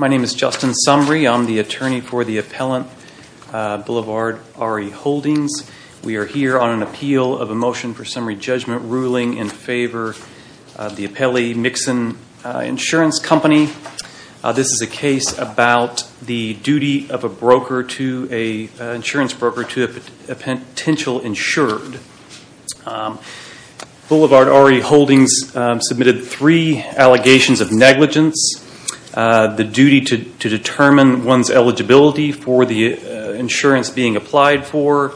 My name is Justin Sumrey. I'm the attorney for the appellant Boulevard RE Holdings. We are here on an appeal of a motion for summary judgment ruling in favor of the appellee Mixon Insurance Company. This is a case about the duty of an insurance broker to a potential insured. Boulevard RE Holdings submitted three allegations of negligence. The first is that the duty to determine one's eligibility for the insurance being applied for,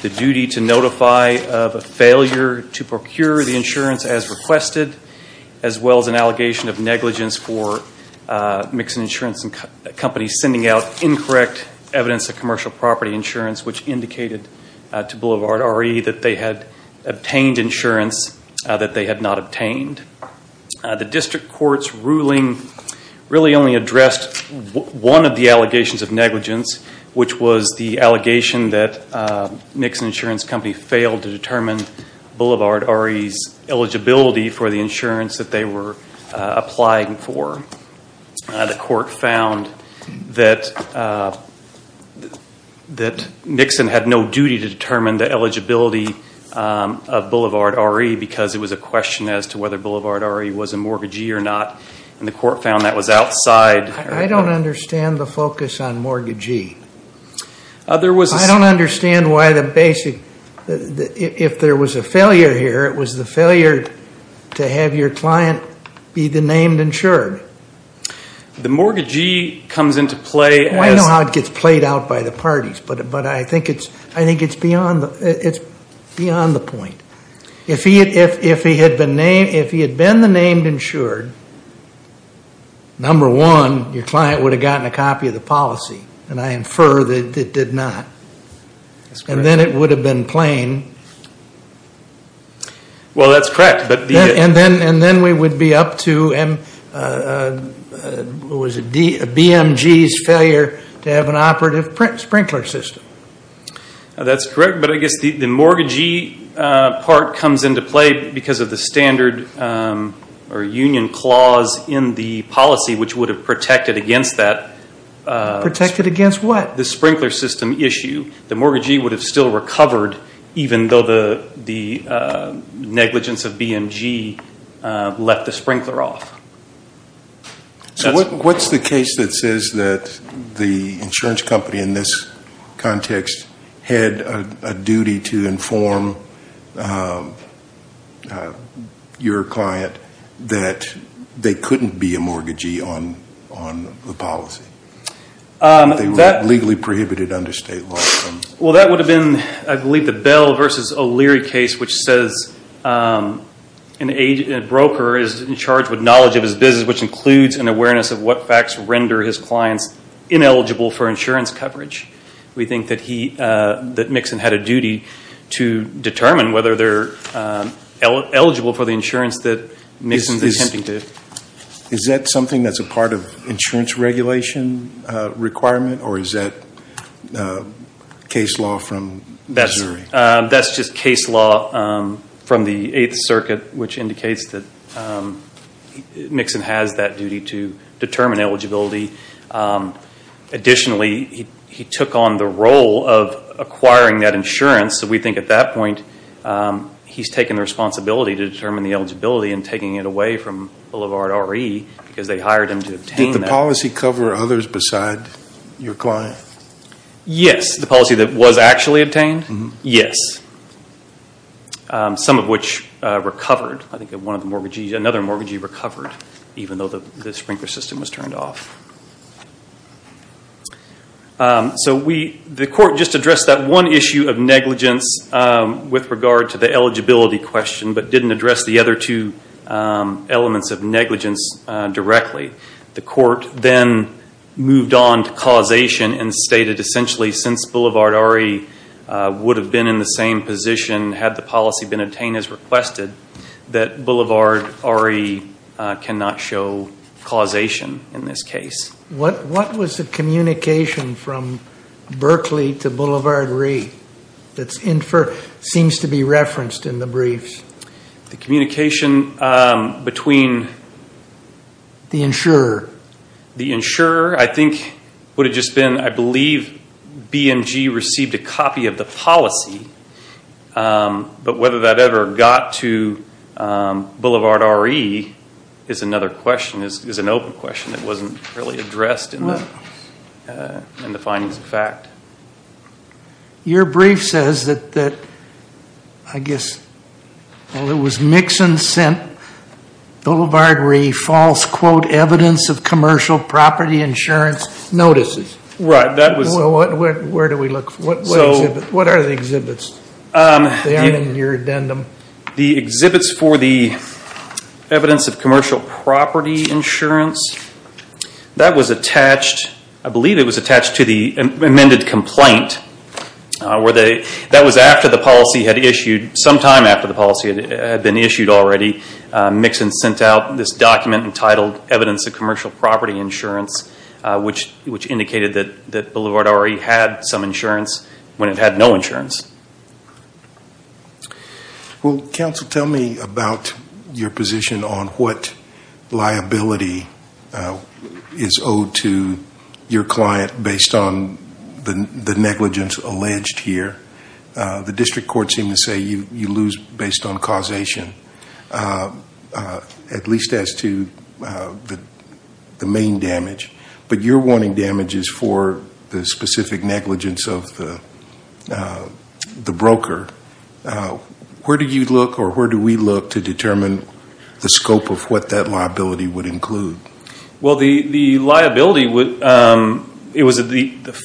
the duty to notify of a failure to procure the insurance as requested, as well as an allegation of negligence for Mixon Insurance Company sending out incorrect evidence of commercial property insurance which indicated to Boulevard RE that they had obtained insurance that they had not obtained. The district court's ruling really only addressed one of the allegations of negligence which was the allegation that Mixon Insurance Company failed to determine Boulevard RE's eligibility for the insurance that they were applying for. The court found that Mixon had no duty to determine the eligibility of Boulevard RE because it was a question as to whether Boulevard RE was a mortgagee or not and the court found that was outside I don't understand the focus on mortgagee. I don't understand why the basic, if there was a failure here it was the failure to have your client be the named insured. The mortgagee comes into play I know how it gets played out by the parties but I think it's beyond the point. If he had been the named insured, number one, your client would have gotten a copy of the policy and I infer that it did not and then it would have been plain. Well that's correct. And then we would be up to BMG's failure to have an operative sprinkler system. That's correct but I guess the mortgagee part comes into play because of the standard or union clause in the policy which would have protected against that. Protected against what? The sprinkler system issue. The mortgagee would have still recovered even though the negligence of BMG left the sprinkler off. So what's the case that says that the insurance company in this context had a duty to inform your client that they couldn't be a mortgagee on the policy? They were legally prohibited under state law. Well that would have been I believe the Bell v. O'Leary case which says a broker is in charge with knowledge of his business which includes an awareness of what facts render his clients ineligible for insurance coverage. We think that Mixon had a duty to determine whether they're eligible for the insurance that Mixon is attempting to. Is that something that's a part of insurance regulation requirement or is that case law from Missouri? That's just case law from the 8th Circuit which indicates that Mixon has that duty to determine eligibility. Additionally he took on the role of acquiring that insurance so we think at that point he's taken the responsibility to determine the eligibility and taking it away from Boulevard RE because they hired him to obtain that. Did the policy cover others besides your client? Yes. The policy that was actually obtained? Yes. Some of which recovered. I think another mortgagee recovered even though the sprinkler system was turned off. The court just addressed that one issue of negligence with regard to the eligibility question but didn't address the other two elements of negligence directly. The court then moved on to causation and stated essentially since Boulevard RE would have been in the same position had the policy been obtained as requested that Boulevard RE cannot show causation in this case. What was the communication from Berkeley to Boulevard RE that seems to be referenced in the briefs? The communication between the insurer. I think what it just been I believe BMG received a copy of the policy but whether that ever got to Boulevard RE is another question, is an open question that wasn't really addressed in the findings of fact. Your brief says that I guess it was Mixon sent Boulevard RE false quote evidence of commercial property insurance notices. Where do we look? What are the exhibits? They aren't in your addendum. The exhibits for the evidence of commercial property insurance, I believe it was attached to the amended complaint. That was sometime after the policy had been issued already. Mixon sent out this document entitled evidence of commercial property insurance which indicated that Boulevard RE had some insurance when it had no insurance. Will counsel tell me about your position on what liability is owed to your client based on the negligence alleged here? The district courts seem to say you lose based on causation, at least as to the main damage. But you're wanting damages for the specific negligence of the broker. Where do you look or where do you look at what that liability would include? The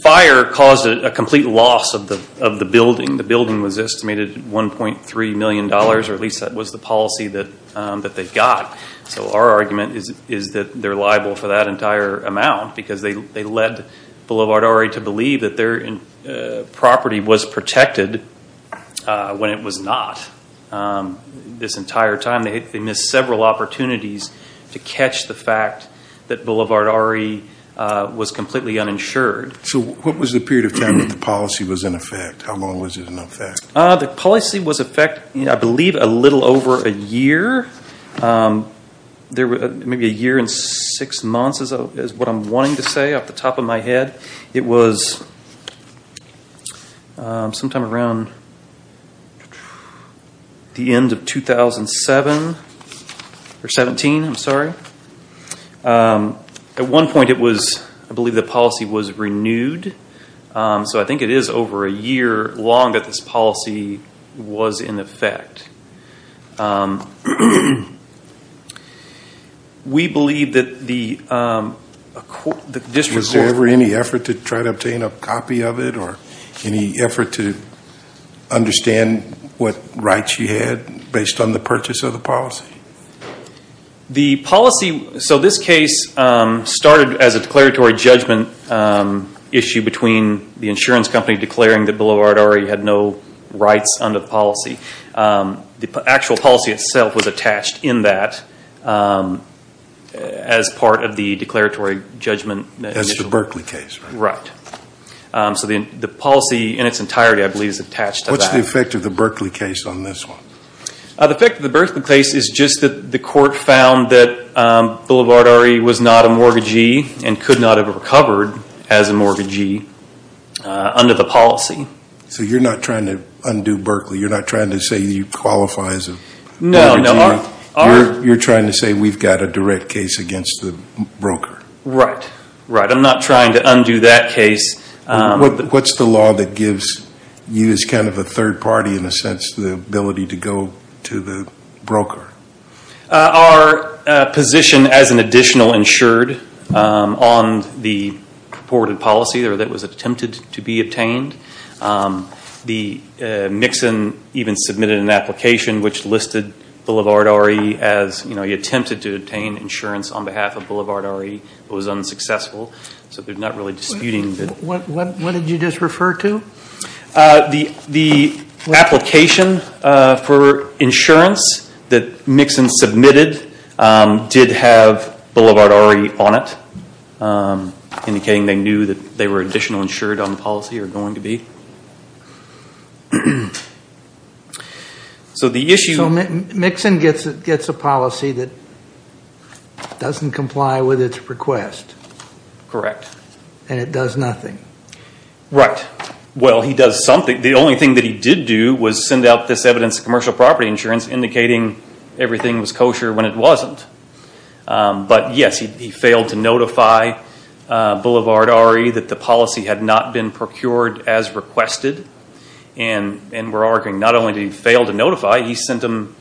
fire caused a complete loss of the building. The building was estimated $1.3 million or at least that was the policy that they got. Our argument is that they're liable for that entire amount because they led Boulevard RE to believe that their property was protected when it was not. This entire time they missed several opportunities to catch the fact that Boulevard RE was completely uninsured. What was the period of time that the policy was in effect? How long was it in effect? The policy was in effect I believe a little over a year. Maybe a year and six months is what I'm wanting to say off the top of my head. It was sometime around the end of 2007. At one point I believe the policy was renewed. I think it is over a year long that this policy was in effect. Is there ever any effort to try to obtain a copy of it or any effort to try to obtain a copy of it? The policy, so this case started as a declaratory judgment issue between the insurance company declaring that Boulevard RE had no rights under the policy. The actual policy itself was attached in that as part of the declaratory judgment. As the Berkeley case, right? Right. The policy in its entirety I believe is attached to that. What is the effect of the Berkeley case on this one? The effect of the Berkeley case is just that the court found that Boulevard RE was not a mortgagee and could not have recovered as a mortgagee under the policy. You're not trying to undo Berkeley. You're not trying to say you qualify as a mortgagee. You're trying to say we've got a direct case against the broker. Right. I'm not trying to undo that case. What's the law that gives you as kind of a third party in a sense the ability to go to the broker? Our position as an additional insured on the purported policy that was attempted to be obtained. The Nixon even submitted an application which listed Boulevard RE as he attempted to obtain insurance on behalf of Boulevard RE. It was unsuccessful so they're not really disputing it. What did you just refer to? The application for insurance that Nixon submitted did have Boulevard RE on it indicating they knew that they were additional insured on the policy or going to be. Nixon gets a policy that doesn't comply with its request. Correct. And it does nothing. Right. The only thing that he did do was send out this evidence of commercial property insurance indicating everything was kosher when it wasn't. But yes, he failed to notify Boulevard RE that the policy had not been procured as requested and we're arguing not only did he fail to notify, he sent them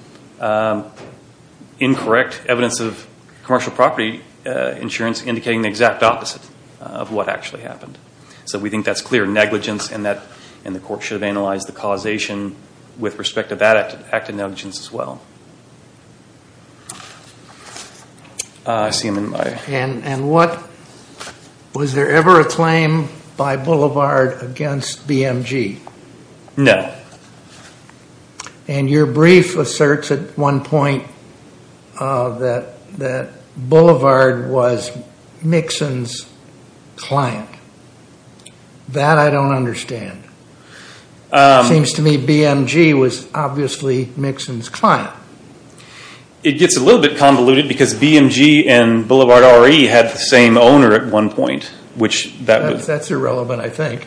incorrect evidence of an exact opposite of what actually happened. So we think that's clear negligence and the court should have analyzed the causation with respect to that act of negligence as well. Was there ever a claim by Boulevard against BMG? No. And your brief asserts at one point that Boulevard was Nixon's client. That I don't understand. It seems to me BMG was obviously Nixon's client. It gets a little bit convoluted because BMG and Boulevard RE had the same owner at one point. That's irrelevant I think.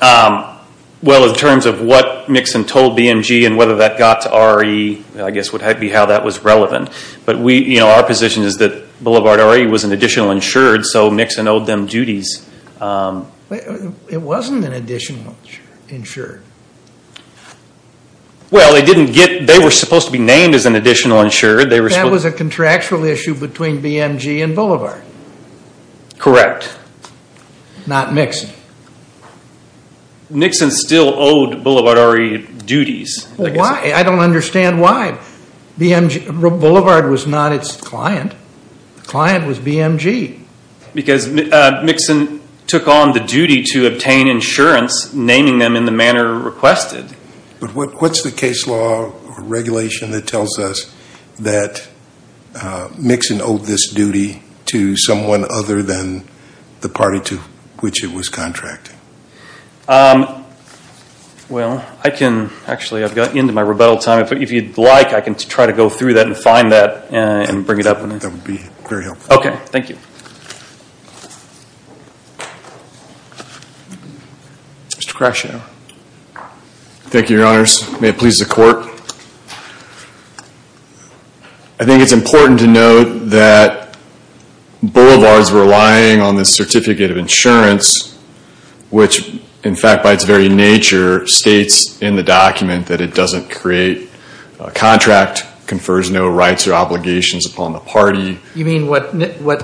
Well in terms of what Nixon told BMG and whether that got to RE, I guess would be how that was an additional insured so Nixon owed them duties. It wasn't an additional insured. Well they didn't get, they were supposed to be named as an additional insured. That was a contractual issue between BMG and Boulevard. Correct. Not Nixon. Nixon still owed Boulevard RE duties. Why? I don't understand why. Boulevard was not its client. The client was BMG. Because Nixon took on the duty to obtain insurance, naming them in the manner requested. What's the case law or regulation that tells us that Nixon owed this duty to someone other than the party to which it was contracting? Well, I can, actually I've gotten into my rebuttal time. If you'd like I can try to go through that and find that and bring it up. That would be very helpful. Okay, thank you. Mr. Crashour. Thank you, your honors. May it please the court. I think it's important to note that which in fact by its very nature states in the document that it doesn't create a contract, confers no rights or obligations upon the party. You mean what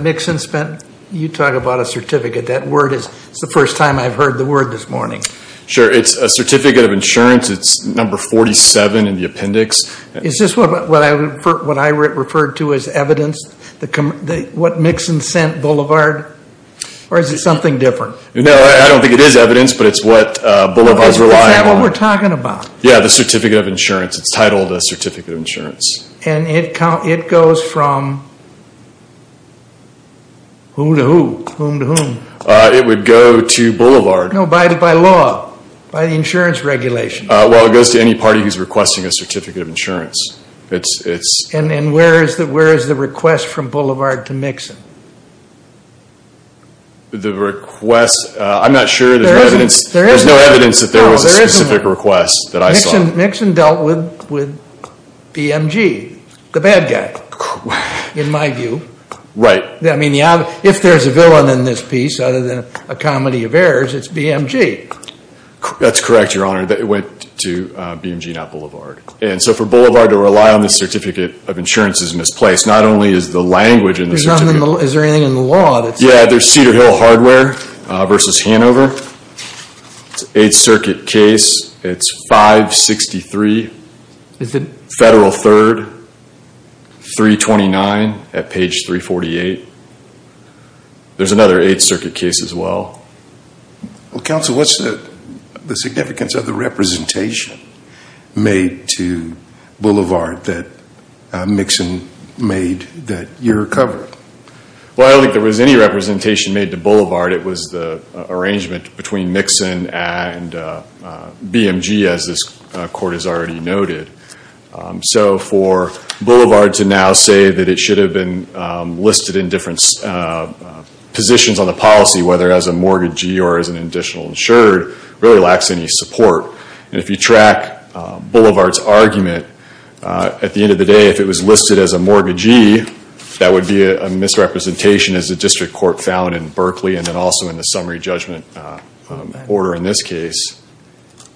Nixon spent? You talk about a certificate. That word is, it's the first time I've heard the word this morning. Sure, it's a certificate of insurance. It's number 47 in the appendix. Is this what I referred to as evidence? What Nixon sent Boulevard? Or is it something different? No, I don't think it is evidence, but it's what Boulevard's relying on. Is that what we're talking about? Yeah, the certificate of insurance. It's titled a certificate of insurance. And it goes from who to who? Whom to whom? It would go to Boulevard. No, by law, by the insurance regulation. Well, it goes to any party who's requesting a certificate of insurance. And where is the request from Boulevard to Nixon? The request, I'm not sure. There's no evidence that there was a specific request that I saw. Nixon dealt with BMG, the bad guy, in my view. Right. I mean, if there's a villain in this piece, other than a comedy of errors, it's BMG. That's correct, Your Honor. It went to BMG, not Boulevard. And so for Boulevard to rely on this certificate of insurance is misplaced. Not only is the language in the certificate— Is there anything in the law that's— Yeah, there's Cedar Hill Hardware versus Hanover. It's an Eighth Circuit case. It's 563 Federal 3rd, 329 at page 348. There's another Eighth Circuit case as well. Well, Counsel, what's the significance of the representation made to Boulevard that Nixon made that you're covering? Well, I don't think there was any representation made to Boulevard. It was the arrangement between Nixon and BMG, as this Court has already noted. So for Boulevard to now say that it should have been listed in different positions on the policy, whether as a mortgagee or as an additional insured, really lacks any support. And if you track Boulevard's argument, at the end of the day, if it was listed as a mortgagee, that would be a misrepresentation, as the District Court found in Berkeley and then also in the summary judgment order in this case.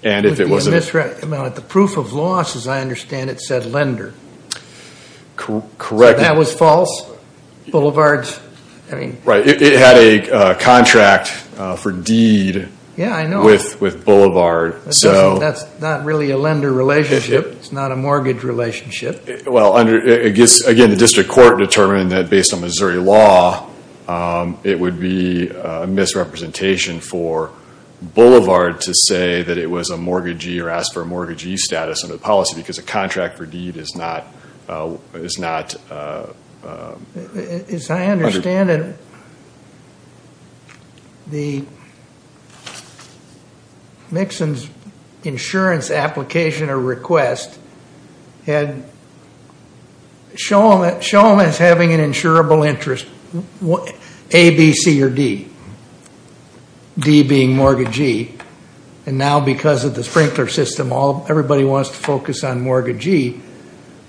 It would be a misrep—the proof of loss, as I understand it, said lender. Correct. So that was false? Boulevard's— Right. It had a contract for deed with Boulevard. That's not really a lender relationship. It's not a mortgage relationship. Well, again, the District Court determined that based on Missouri law, it would be a misrepresentation for Boulevard to say that it was a mortgagee or ask for a mortgagee status under the policy because a contract for deed is not— As I understand it, the—Mixon's insurance application or request had shown as having an insurable interest, A, B, C, or D, D being mortgagee. And now because of the sprinkler system, everybody wants to focus on mortgagee.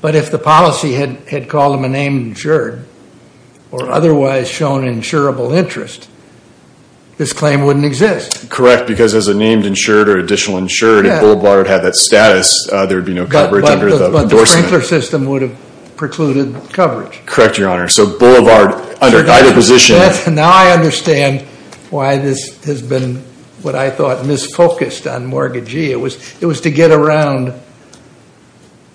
But if the policy had called them a named insured or otherwise shown insurable interest, this claim wouldn't exist. Correct, because as a named insured or additional insured, if Boulevard had that status, there would be no coverage under the endorsement. But the sprinkler system would have precluded coverage. Correct, Your Honor. So Boulevard, under either position— Now I understand why this has been, what I thought, misfocused on mortgagee. It was to get around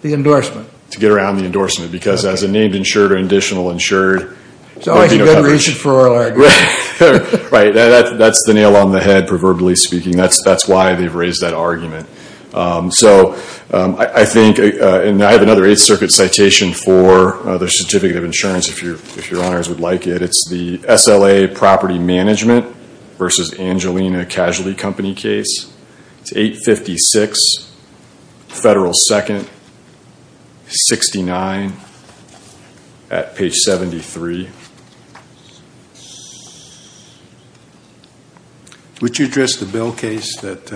the endorsement. To get around the endorsement because as a named insured or additional insured— There's always a good reason for oral arguments. Right, that's the nail on the head, proverbially speaking. That's why they've raised that argument. So I think—and I have another Eighth Circuit citation for the certificate of insurance, if Your Honors would like it. It's the SLA property management versus Angelina Casualty Company case. It's 856 Federal 2nd 69 at page 73. Would you address the Bell case that—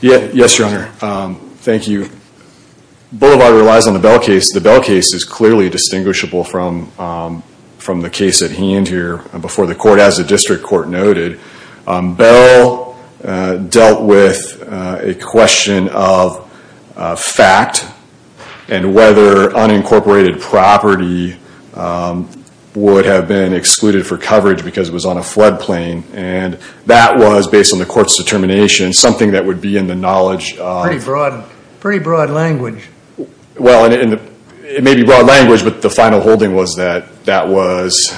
Yes, Your Honor. Thank you. Boulevard relies on the Bell case. The Bell case is clearly distinguishable from the case at hand here. Before the court, as the district court noted, Bell dealt with a question of fact and whether unincorporated property would have been excluded for coverage because it was on a flood plain. And that was, based on the court's determination, something that would be in the knowledge of— Pretty broad language. Well, it may be broad language, but the final holding was that that was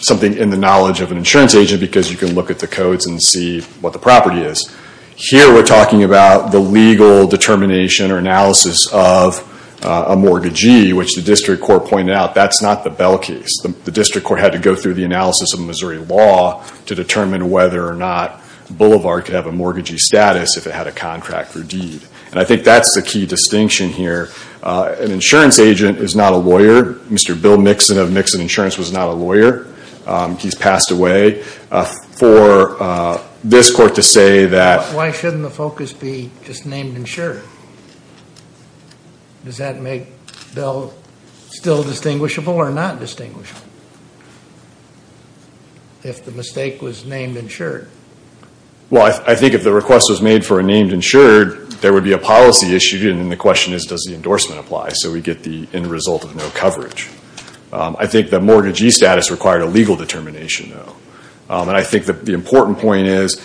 something in the knowledge of an insurance agent because you can look at the codes and see what the property is. Here we're talking about the legal determination or analysis of a mortgagee, which the district court pointed out that's not the Bell case. The district court had to go through the analysis of Missouri law to determine whether or not Boulevard could have a mortgagee status if it had a contract or deed. And I think that's the key distinction here. An insurance agent is not a lawyer. Mr. Bill Mixon of Mixon Insurance was not a lawyer. He's passed away. For this court to say that— Why shouldn't the focus be just named insured? Does that make Bell still distinguishable or not distinguishable if the mistake was named insured? Well, I think if the request was made for a named insured, there would be a policy issued, and the question is, does the endorsement apply? So we get the end result of no coverage. I think the mortgagee status required a legal determination, though. And I think the important point is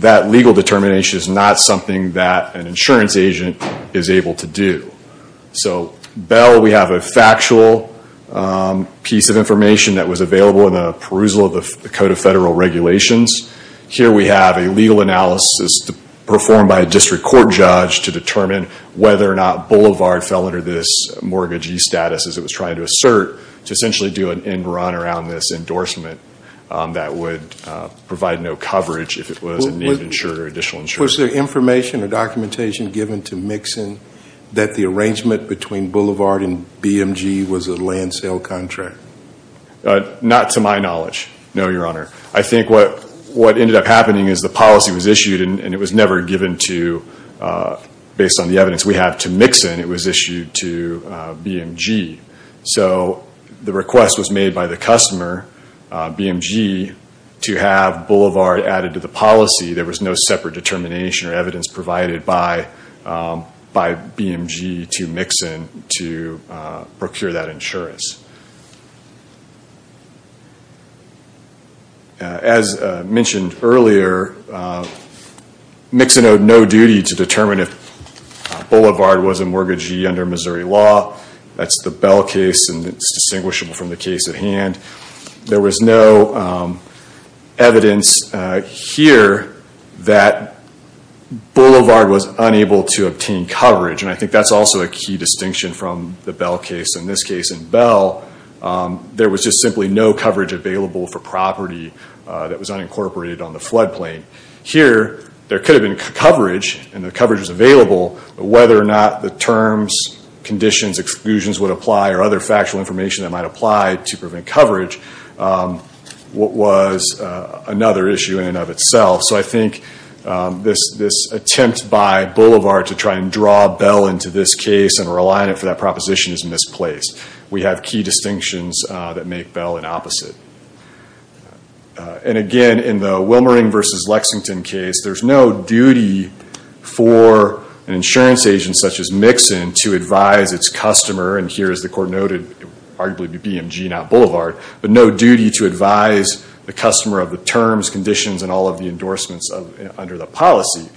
that legal determination is not something that an insurance agent is able to do. So Bell, we have a factual piece of information that was available in the perusal of the Code of Federal Regulations. Here we have a legal analysis performed by a district court judge to determine whether or not Boulevard fell under this mortgagee status, as it was trying to assert, to essentially do an end run around this endorsement that would provide no coverage if it was a named insured or additional insured. Was there information or documentation given to Mixon that the arrangement between Boulevard and BMG was a land sale contract? Not to my knowledge, no, Your Honor. I think what ended up happening is the policy was issued, and it was never given to, based on the evidence we have, to Mixon. It was issued to BMG. So the request was made by the customer, BMG, to have Boulevard added to the policy. There was no separate determination or evidence provided by BMG to Mixon to procure that insurance. As mentioned earlier, Mixon owed no duty to determine if Boulevard was a mortgagee under Missouri law. That's the Bell case, and it's distinguishable from the case at hand. There was no evidence here that Boulevard was unable to obtain coverage, and I think that's also a key distinction from the Bell case. In this case in Bell, there was just simply no coverage available for property that was unincorporated on the floodplain. Here, there could have been coverage, and the coverage was available, but whether or not the terms, conditions, exclusions would apply or other factual information that might apply to prevent coverage was another issue in and of itself. So I think this attempt by Boulevard to try and draw Bell into this case and rely on it for that proposition is misplaced. We have key distinctions that make Bell an opposite. Again, in the Wilmering v. Lexington case, there's no duty for an insurance agent such as Mixon to advise its customer, and here, as the court noted, arguably BMG, not Boulevard, but no duty to advise the customer of the terms, conditions, and all of the endorsements under the policy.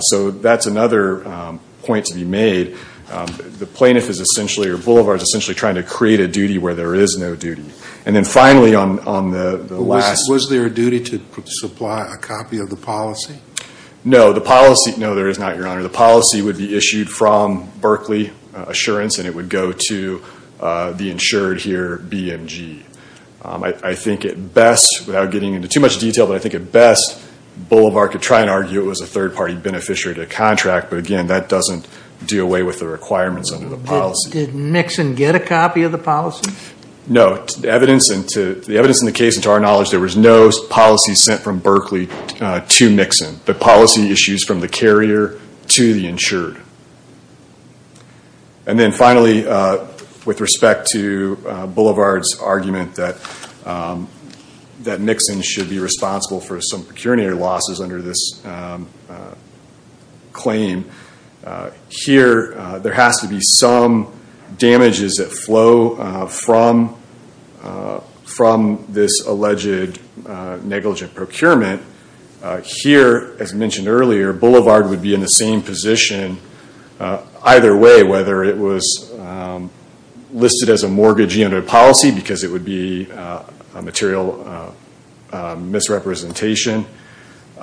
So that's another point to be made. The plaintiff is essentially, or Boulevard is essentially trying to create a duty where there is no duty. And then finally on the last. Was there a duty to supply a copy of the policy? No, the policy, no there is not, Your Honor. The policy would be issued from Berkeley Assurance, and it would go to the insured here, BMG. I think at best, without getting into too much detail, but I think at best Boulevard could try and argue it was a third-party beneficiary to a contract, but again, that doesn't do away with the requirements under the policy. Did Mixon get a copy of the policy? No. The evidence in the case and to our knowledge, there was no policy sent from Berkeley to Mixon. The policy issues from the carrier to the insured. And then finally, with respect to Boulevard's argument that Mixon should be responsible for some procurator losses under this claim, here there has to be some damages that flow from this alleged negligent procurement. Here, as mentioned earlier, Boulevard would be in the same position either way, whether it was listed as a mortgage unit policy, because it would be a material misrepresentation,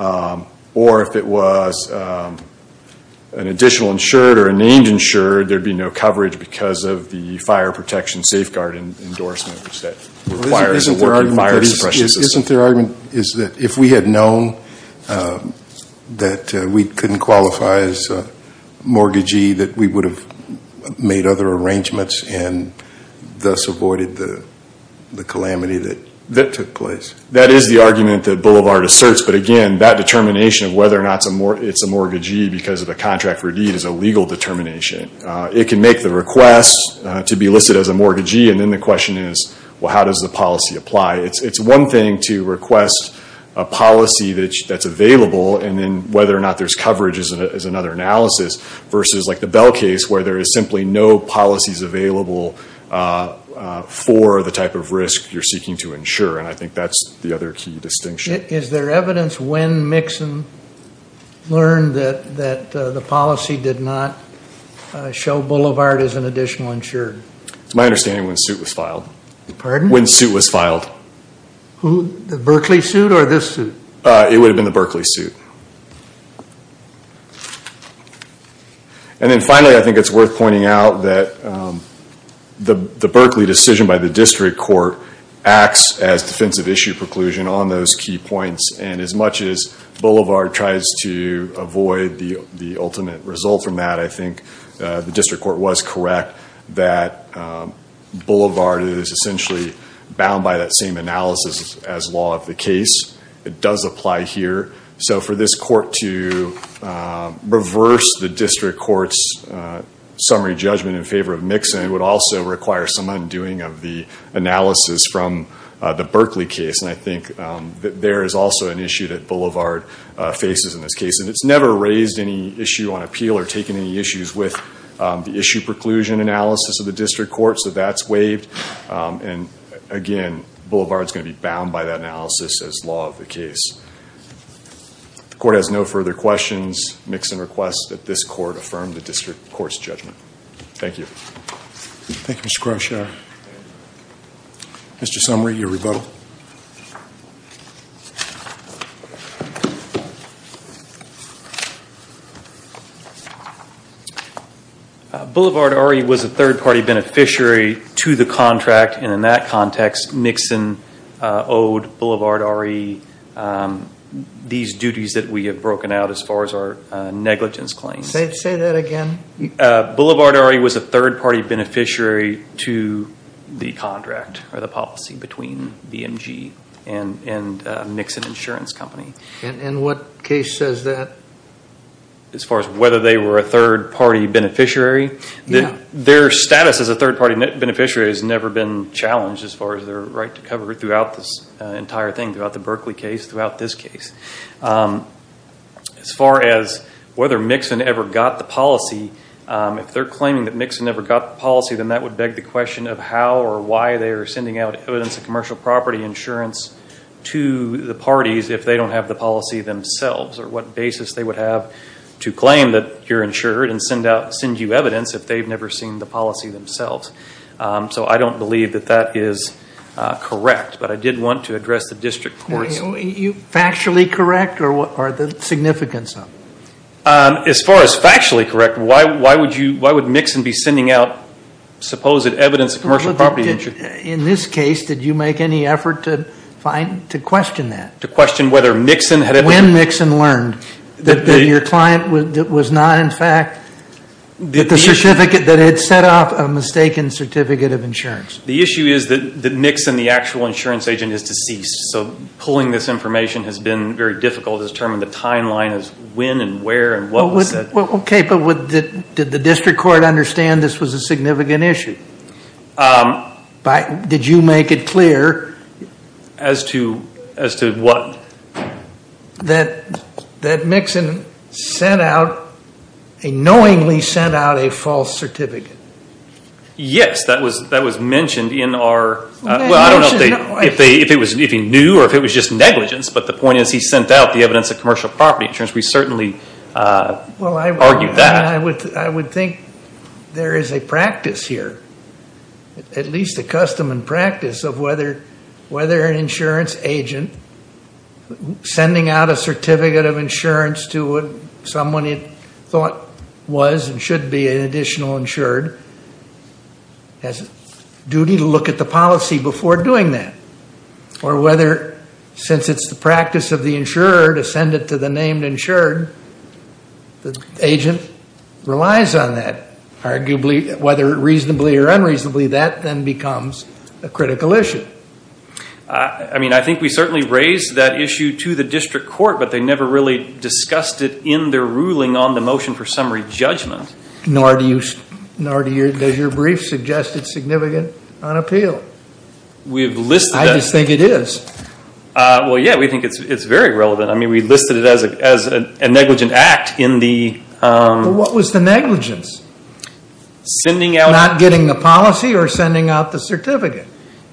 or if it was an additional insured or a named insured, there would be no coverage because of the fire protection safeguard endorsement, which that requires a working fire suppression system. The argument is that if we had known that we couldn't qualify as a mortgagee, that we would have made other arrangements and thus avoided the calamity that took place. That is the argument that Boulevard asserts, but again, that determination of whether or not it's a mortgagee because of the contract for deed is a legal determination. It can make the request to be listed as a mortgagee, and then the question is, well, how does the policy apply? It's one thing to request a policy that's available, and then whether or not there's coverage is another analysis, versus like the Bell case where there is simply no policies available for the type of risk you're seeking to insure, and I think that's the other key distinction. Is there evidence when Mixon learned that the policy did not show Boulevard as an additional insured? It's my understanding when suit was filed. Pardon? When suit was filed. The Berkeley suit or this suit? It would have been the Berkeley suit. And then finally, I think it's worth pointing out that the Berkeley decision by the district court acts as defensive issue preclusion on those key points, and as much as Boulevard tries to avoid the ultimate result from that, I think the district court was correct that Boulevard is essentially bound by that same analysis as law of the case. It does apply here. So for this court to reverse the district court's summary judgment in favor of Mixon would also require some undoing of the analysis from the Berkeley case, and I think that there is also an issue that Boulevard faces in this case, and it's never raised any issue on appeal or taken any issues with the issue preclusion analysis of the district court, so that's waived. And again, Boulevard is going to be bound by that analysis as law of the case. The court has no further questions. Mixon requests that this court affirm the district court's judgment. Thank you. Thank you, Mr. Krosh. Mr. Sumry, your rebuttal. Boulevard already was a third-party beneficiary to the contract, and in that context, Mixon owed Boulevard already these duties that we have broken out as far as our negligence claims. Say that again. Boulevard already was a third-party beneficiary to the contract or the policy between BMG and Mixon Insurance Company. And what case says that? As far as whether they were a third-party beneficiary? Yeah. Their status as a third-party beneficiary has never been challenged as far as their right to cover throughout this entire thing, throughout the Berkeley case, throughout this case. As far as whether Mixon ever got the policy, if they're claiming that Mixon ever got the policy, then that would beg the question of how or why they are sending out evidence of commercial property insurance to the parties if they don't have the policy themselves, or what basis they would have to claim that you're insured and send you evidence if they've never seen the policy themselves. So I don't believe that that is correct, but I did want to address the district court's… Are you factually correct, or what are the significance of it? As far as factually correct, why would Mixon be sending out supposed evidence of commercial property insurance? In this case, did you make any effort to question that? To question whether Mixon had… When Mixon learned that your client was not, in fact, the certificate that had set off a mistaken certificate of insurance. The issue is that Mixon, the actual insurance agent, is deceased. So pulling this information has been very difficult to determine the timeline of when and where and what was said. Okay, but did the district court understand this was a significant issue? Did you make it clear… As to what? That Mixon sent out, knowingly sent out, a false certificate. Yes, that was mentioned in our… Well, I don't know if he knew or if it was just negligence, but the point is he sent out the evidence of commercial property insurance. We certainly argued that. I would think there is a practice here, at least a custom and practice, of whether an insurance agent sending out a certificate of insurance to someone he thought was and should be an additional insured has a duty to look at the policy before doing that. Or whether, since it's the practice of the insurer to send it to the named insured, the agent relies on that. Arguably, whether reasonably or unreasonably, that then becomes a critical issue. I mean, I think we certainly raised that issue to the district court, but they never really discussed it in their ruling on the motion for summary judgment. Nor does your brief suggest it's significant on appeal. I just think it is. Well, yeah, we think it's very relevant. I mean, we listed it as a negligent act in the… What was the negligence? Not getting the policy or sending out the certificate?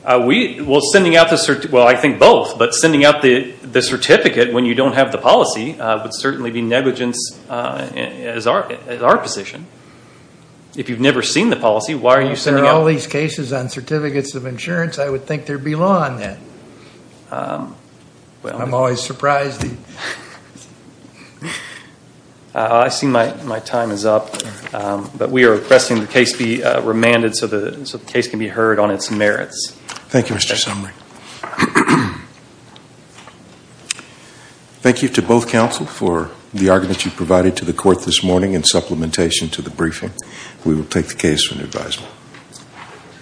Well, I think both. But sending out the certificate when you don't have the policy would certainly be negligence as our position. If you've never seen the policy, why are you sending out… Well, if there are all these cases on certificates of insurance, I would think there would be law on that. I'm always surprised. I see my time is up. But we are requesting the case be remanded so the case can be heard on its merits. Thank you, Mr. Summary. Thank you to both counsel for the argument you provided to the court this morning in supplementation to the briefing. We will take the case for new advisement.